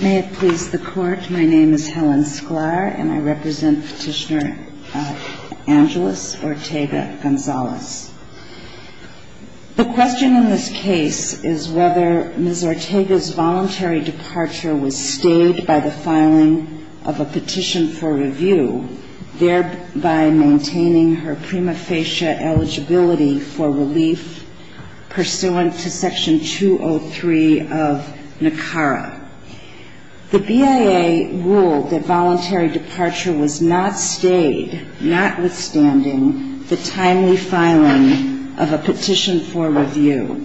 May it please the Court, my name is Helen Sklar and I represent Petitioner Angelus Ortega Gonzalez. The question in this case is whether Ms. Ortega's voluntary departure was stayed by the filing of a petition for review, thereby maintaining her prima facie eligibility for relief pursuant to Section 203 of NACARA. The BIA ruled that voluntary departure was not stayed, notwithstanding the timely filing of a petition for review.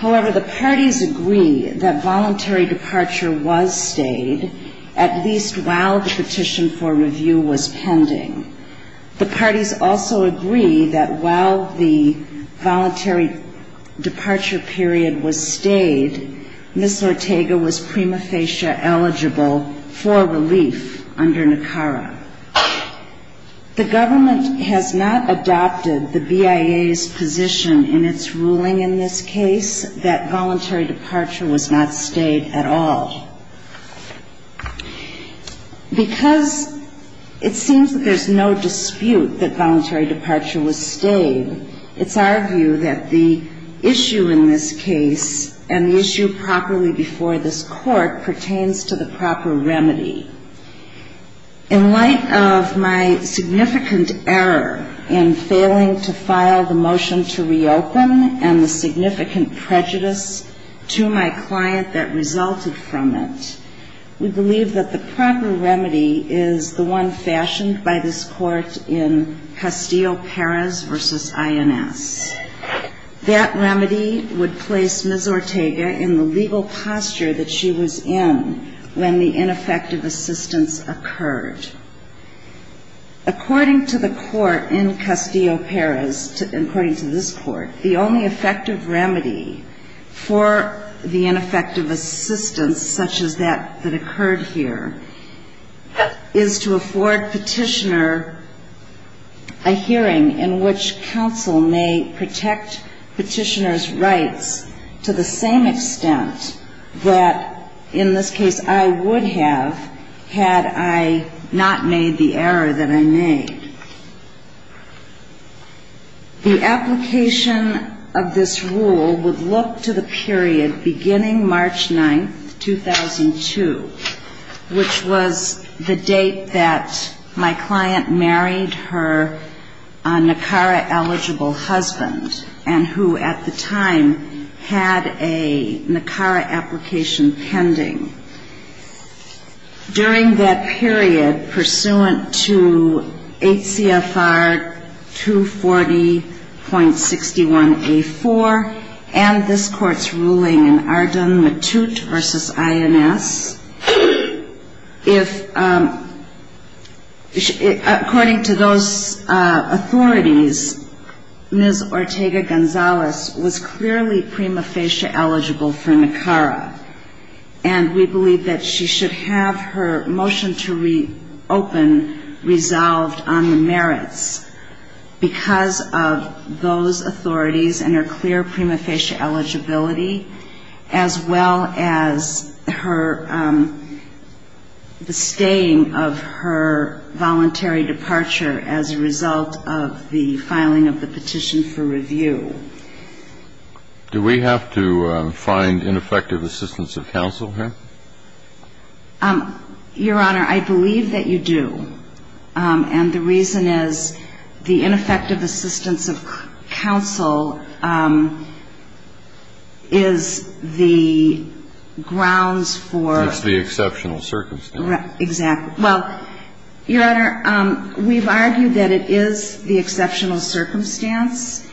However, the parties agree that voluntary departure was stayed, at least while the petition for review was pending. The parties also agree that while the voluntary departure period was stayed, Ms. Ortega was prima facie eligible for relief under NACARA. The government has not adopted the BIA's position in its ruling in this case that voluntary departure was not stayed at all. Because it seems that there's no dispute that voluntary departure was stayed, it's our view that the issue in this case and the issue properly before this Court pertains to the proper remedy. In light of my significant error in failing to file the motion to reopen and the significant prejudice to my client that resulted from it, we believe that the proper remedy is the one fashioned by this Court in Castillo-Perez v. INS. That remedy would place Ms. Ortega in the legal posture that she was in when the ineffective assistance occurred. According to the Court in Castillo-Perez, according to this Court, the only effective remedy for the ineffective assistance such as that that occurred here is to afford petitioner a hearing in which counsel may protect petitioner's rights to the same extent that in this case I would have had I not made the error that I made. The application of this rule would look to the period beginning March 9, 2002, which was the date that my client married her NACARA-eligible husband and who at the time had a NACARA application pending. During that period, pursuant to HCFR 240.61A4 and this Court's ruling in Arden-Mattut v. INS, according to those authorities, Ms. Ortega-Gonzalez was clearly prima facie eligible for NACARA, and we believe that she should have her motion to reopen resolved on the merits, because of those authorities and her clear prima facie eligibility, as well as her, the staying of her voluntary departure as a result of the final filing of the petition for review. Do we have to find ineffective assistance of counsel here? Your Honor, I believe that you do. And the reason is the ineffective assistance of counsel is the grounds for — It's the exceptional circumstance. Well, Your Honor, we've argued that it is the exceptional circumstance,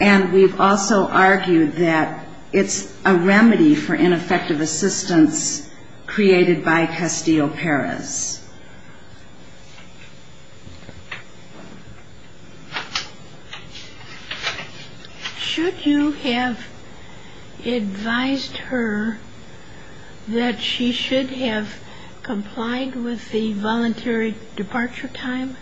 and we've also argued that it's a remedy for ineffective assistance created by Castillo-Perez. Should you have advised her that she should have complied with the voluntary departure time?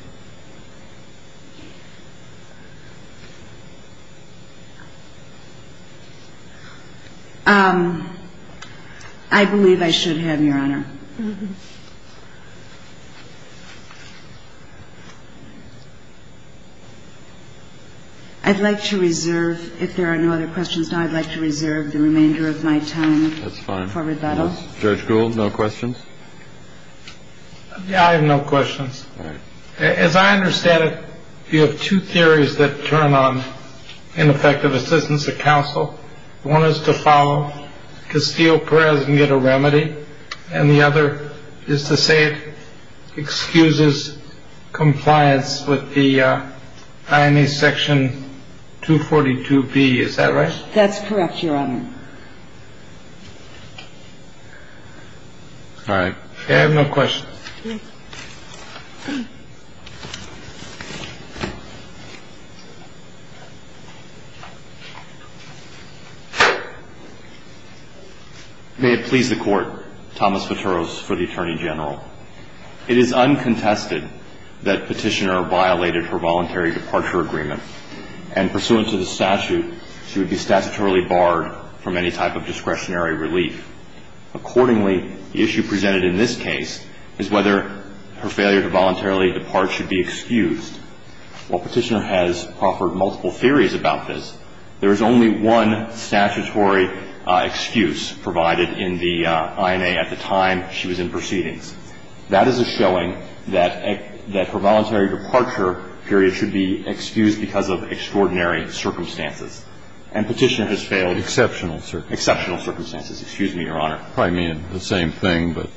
I believe I should have, Your Honor. I'd like to reserve, if there are no other questions, I'd like to reserve the remainder of my time for rebuttal. That's fine. Judge Gould, no questions? I have no questions. All right. As I understand it, you have two theories that turn on ineffective assistance of counsel. One is to follow Castillo-Perez and get a remedy. And the other is to say it excuses compliance with the IME Section 242B. Is that right? That's correct, Your Honor. All right. I have no questions. May it please the Court, Thomas Viteros for the Attorney General. It is uncontested that Petitioner violated her voluntary departure agreement, and pursuant to the statute, she would be statutorily barred from any type of discretionary relief. Accordingly, the issue presented in this case is whether her failure to voluntarily depart should be excused. While Petitioner has offered multiple theories about this, there is only one statutory excuse provided in the INA at the time she was in proceedings. That is a showing that her voluntary departure period should be excused because of extraordinary circumstances. And Petitioner has failed exceptional circumstances. Exceptional circumstances. Excuse me, Your Honor. Probably mean the same thing, but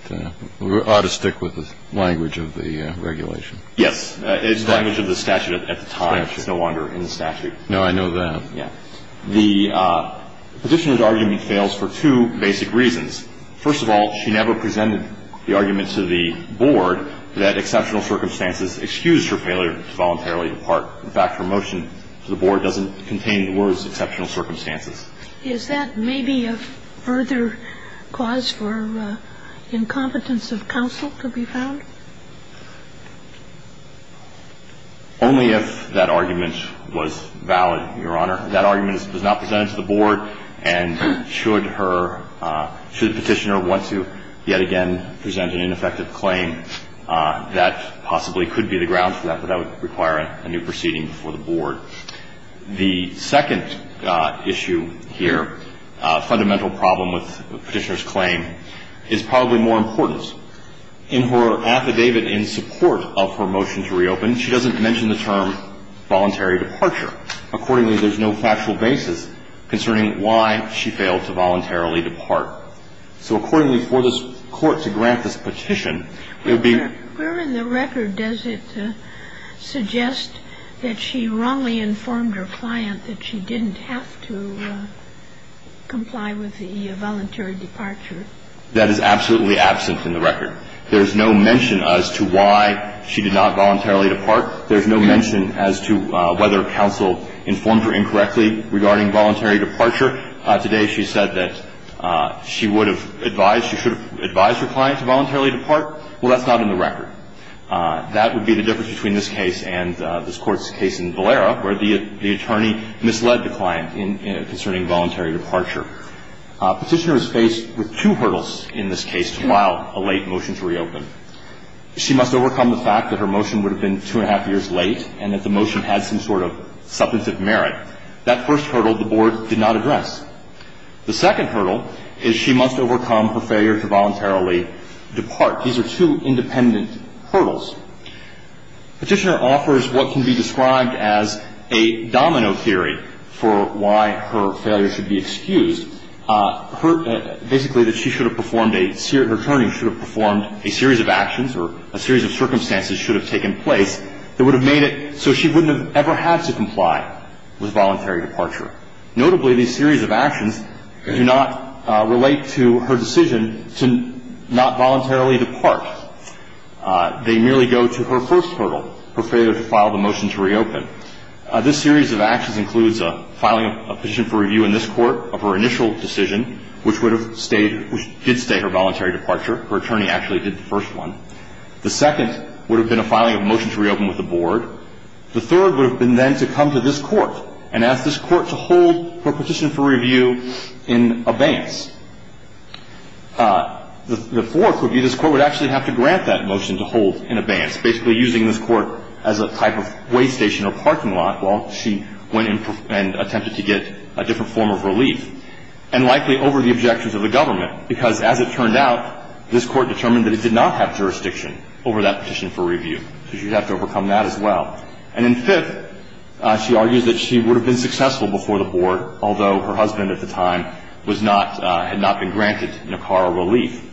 we ought to stick with the language of the regulation. Yes. It's the language of the statute at the time. It's no wonder in the statute. No, I know that. Yeah. The Petitioner's argument fails for two basic reasons. First of all, she never presented the argument to the Board that exceptional circumstances excused her failure to voluntarily depart. In fact, her motion to the Board doesn't contain the words exceptional circumstances. Is that maybe a further cause for incompetence of counsel to be found? Only if that argument was valid, Your Honor. If that argument was not presented to the Board, and should her – should Petitioner want to yet again present an ineffective claim, that possibly could be the ground for that, but that would require a new proceeding before the Board. The second issue here, fundamental problem with Petitioner's claim, is probably more important. In her affidavit in support of her motion to reopen, she doesn't mention the term voluntary departure. Accordingly, there's no factual basis concerning why she failed to voluntarily depart. So accordingly, for this Court to grant this petition, it would be – Where in the record does it suggest that she wrongly informed her client that she didn't have to comply with the voluntary departure? That is absolutely absent in the record. There's no mention as to why she did not voluntarily depart. There's no mention as to whether counsel informed her incorrectly regarding voluntary departure. Today, she said that she would have advised – she should have advised her client to voluntarily depart. Well, that's not in the record. That would be the difference between this case and this Court's case in Valera, where the attorney misled the client in – concerning voluntary departure. Petitioner is faced with two hurdles in this case while a late motion to reopen. She must overcome the fact that her motion would have been two and a half years late and that the motion had some sort of substantive merit. That first hurdle, the Board did not address. The second hurdle is she must overcome her failure to voluntarily depart. These are two independent hurdles. Petitioner offers what can be described as a domino theory for why her failure should be excused. Her – basically that she should have performed a – her attorney should have performed a series of actions or a series of circumstances should have taken place that would have made it so she wouldn't have ever had to comply with voluntary departure. Notably, these series of actions do not relate to her decision to not voluntarily depart. They merely go to her first hurdle, her failure to file the motion to reopen. This series of actions includes filing a petition for review in this Court of her initial decision, which would have stayed – which did stay her voluntary departure. Her attorney actually did the first one. The second would have been a filing of a motion to reopen with the Board. The third would have been then to come to this Court and ask this Court to hold her petition for review in abeyance. The fourth would be this Court would actually have to grant that motion to hold in a parking lot while she went and attempted to get a different form of relief, and likely over the objections of the government, because as it turned out, this Court determined that it did not have jurisdiction over that petition for review. So she would have to overcome that as well. And then fifth, she argues that she would have been successful before the Board, although her husband at the time was not – had not been granted a car or relief.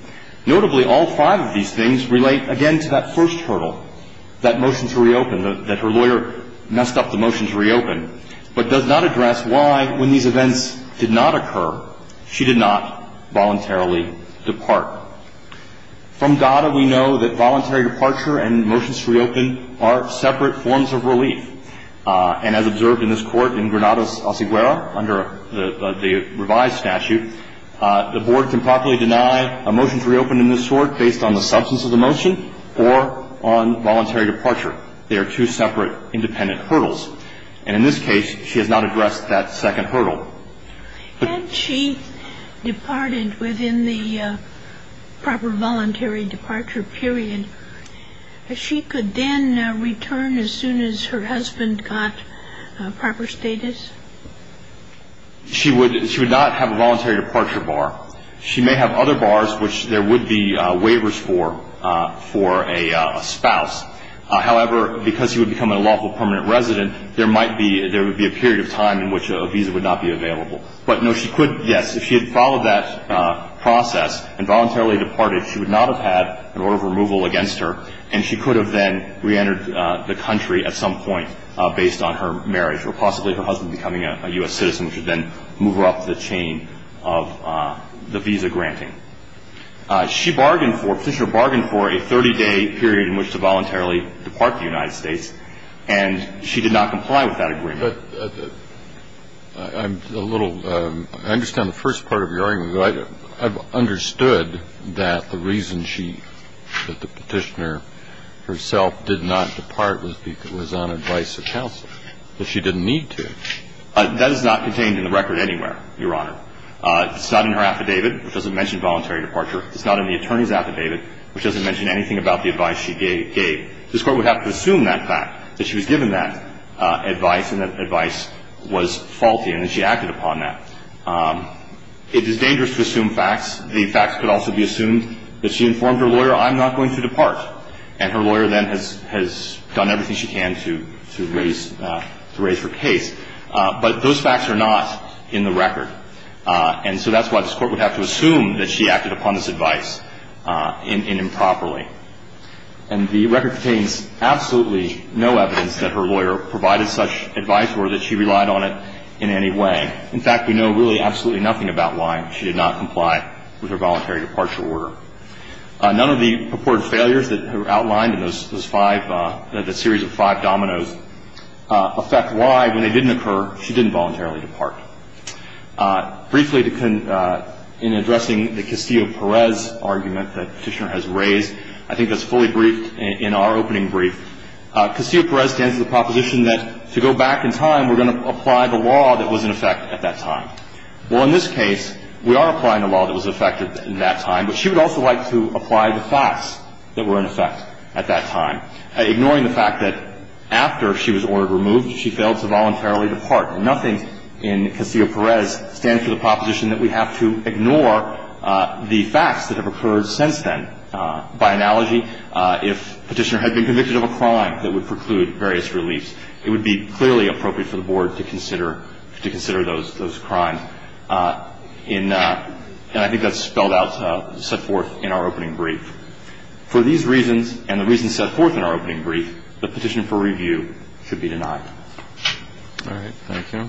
Notably, all five of these things relate again to that first hurdle, that motion to reopen that her lawyer messed up the motion to reopen, but does not address why, when these events did not occur, she did not voluntarily depart. From DADA, we know that voluntary departure and motions to reopen are separate forms of relief. And as observed in this Court in Granados, Ociguera, under the revised statute, the Board can properly deny a motion to reopen in this Court based on the substance of the motion or on voluntary departure. They are two separate independent hurdles. And in this case, she has not addressed that second hurdle. But – Had she departed within the proper voluntary departure period, she could then return as soon as her husband got proper status? She would – she would not have a voluntary departure bar. She may have other bars, which there would be waivers for, for a spouse. However, because she would become a lawful permanent resident, there might be – there would be a period of time in which a visa would not be available. But, no, she could – yes, if she had followed that process and voluntarily departed, she would not have had an order of removal against her, and she could have then reentered the country at some point based on her marriage or possibly her husband becoming a U.S. citizen, which would then move her up the chain of the visa granting. She bargained for – Petitioner bargained for a 30-day period in which to voluntarily depart the United States, and she did not comply with that agreement. But I'm a little – I understand the first part of your argument. I've understood that the reason she – that the Petitioner herself did not depart was because – was on advice of counsel, that she didn't need to. That is not contained in the record anywhere, Your Honor. It's not in her affidavit, which doesn't mention voluntary departure. It's not in the attorney's affidavit, which doesn't mention anything about the advice she gave. This Court would have to assume that fact, that she was given that advice, and that advice was faulty, and that she acted upon that. It is dangerous to assume facts. The facts could also be assumed that she informed her lawyer, I'm not going to depart, and her lawyer then has done everything she can to raise her case. But those facts are not in the record. And so that's why this Court would have to assume that she acted upon this advice improperly. And the record contains absolutely no evidence that her lawyer provided such advice or that she relied on it in any way. In fact, we know really absolutely nothing about why she did not comply with her voluntary departure order. None of the purported failures that are outlined in those five – the series of five dominoes – affect why, when they didn't occur, she didn't voluntarily depart. Briefly, in addressing the Castillo-Perez argument that Petitioner has raised, I think that's fully briefed in our opening brief. Castillo-Perez stands to the proposition that to go back in time, we're going to apply the law that was in effect at that time. Well, in this case, we are applying the law that was in effect at that time, but she would also like to apply the facts that were in effect at that time, ignoring the fact that after she was ordered removed, she failed to voluntarily depart. And nothing in Castillo-Perez stands to the proposition that we have to ignore the facts that have occurred since then. By analogy, if Petitioner had been convicted of a crime that would preclude various reliefs, it would be clearly appropriate for the Board to consider those crimes in – and I think that's spelled out, set forth in our opening brief. For these reasons and the reasons set forth in our opening brief, the petition for review should be denied. All right. Thank you.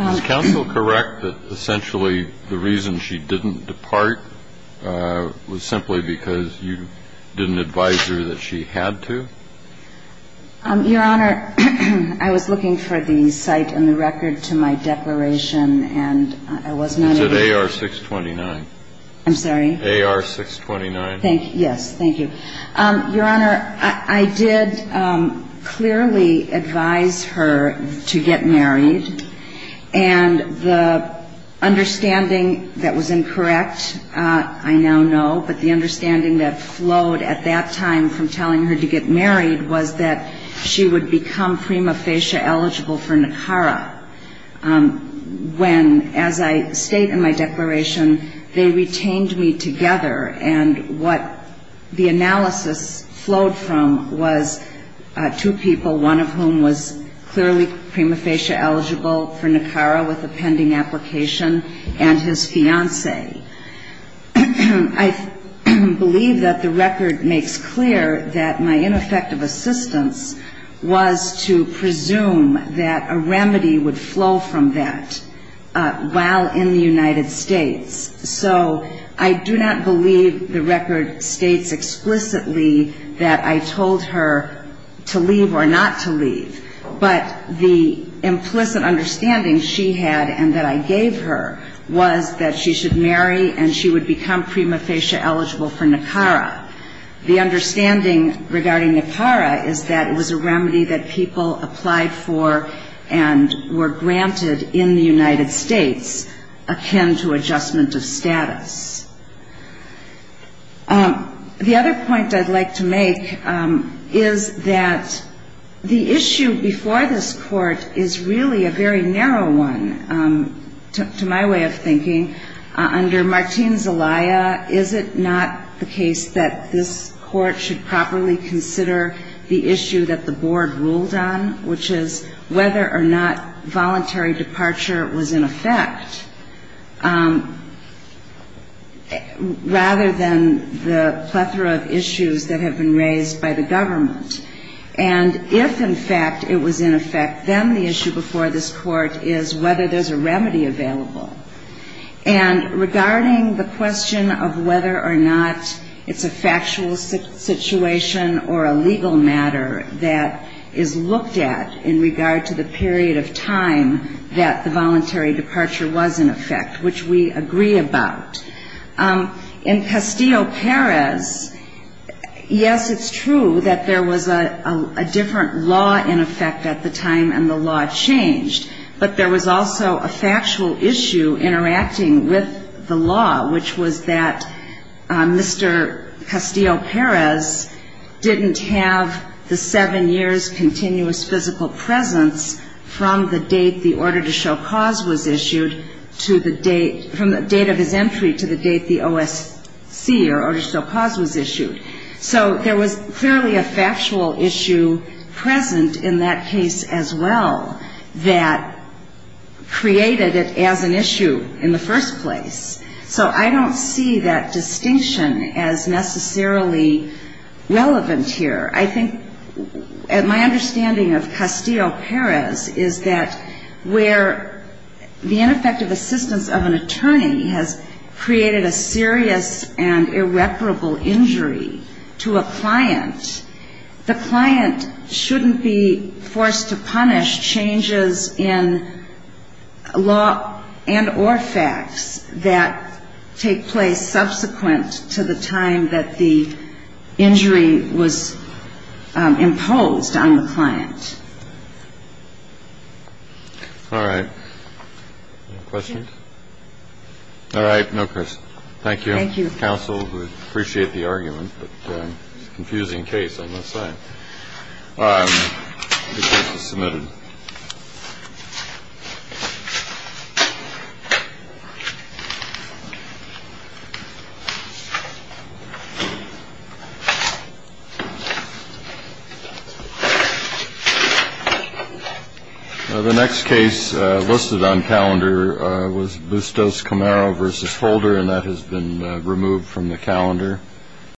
Is counsel correct that essentially the reason she didn't depart was simply because you didn't advise her that she had to? Your Honor, I was looking for the site and the record to my declaration, and I was not able to. It's at AR-629. I'm sorry? AR-629. Thank you. Yes. Thank you. Your Honor, I did clearly advise her to get married, and the understanding that was incorrect, I now know, but the understanding that flowed at that time from telling her to get married was that she would become prima facie eligible for NACARA, when, as I state in my declaration, they retained me together. And what the analysis flowed from was two people, one of whom was clearly prima facie eligible for NACARA with a pending application, and his fiancée. I believe that the record makes clear that my ineffective assistance was to presume that a remedy would flow from that while in the United States. So I do not believe the record states explicitly that I told her to leave or not to leave, but the implicit understanding she had and that I gave her was that she should marry and she would become prima facie eligible for NACARA. The understanding regarding NACARA is that it was a remedy that people applied for and were granted in the United States akin to adjustment of status. The other point I'd like to make is that the issue before this Court is really a very complex issue. Under Martín Zelaya, is it not the case that this Court should properly consider the issue that the Board ruled on, which is whether or not voluntary departure was in effect, rather than the plethora of issues that have been raised by the Board regarding the question of whether or not it's a factual situation or a legal matter that is looked at in regard to the period of time that the voluntary departure was in effect, which we agree about. In Castillo-Perez, yes, it's true that there was a different law in effect at the time and the law changed, but there was also a factual issue interacting with the law, which was that Mr. Castillo-Perez didn't have the seven years continuous physical presence from the date the order to show cause was issued to the date, from the date of his entry to the date the OSC, or order to show cause, was issued. So there was clearly a factual issue present in that case as well that created it as an issue in the first place. So I don't see that distinction as necessarily relevant here. I think my understanding of Castillo-Perez is that where the ineffective assistance of an attorney has created a serious and irreparable injury to a client, the client shouldn't be forced to punish changes in law and or facts that take place subsequent to the time that the injury was imposed on the client. All right. Any questions? All right. No questions. Thank you. Thank you. Counsel, we appreciate the argument, but it's a confusing case, I must say. The case is submitted. The next case listed on calendar was Bustos-Camaro v. Holder, and that has been removed from the calendar.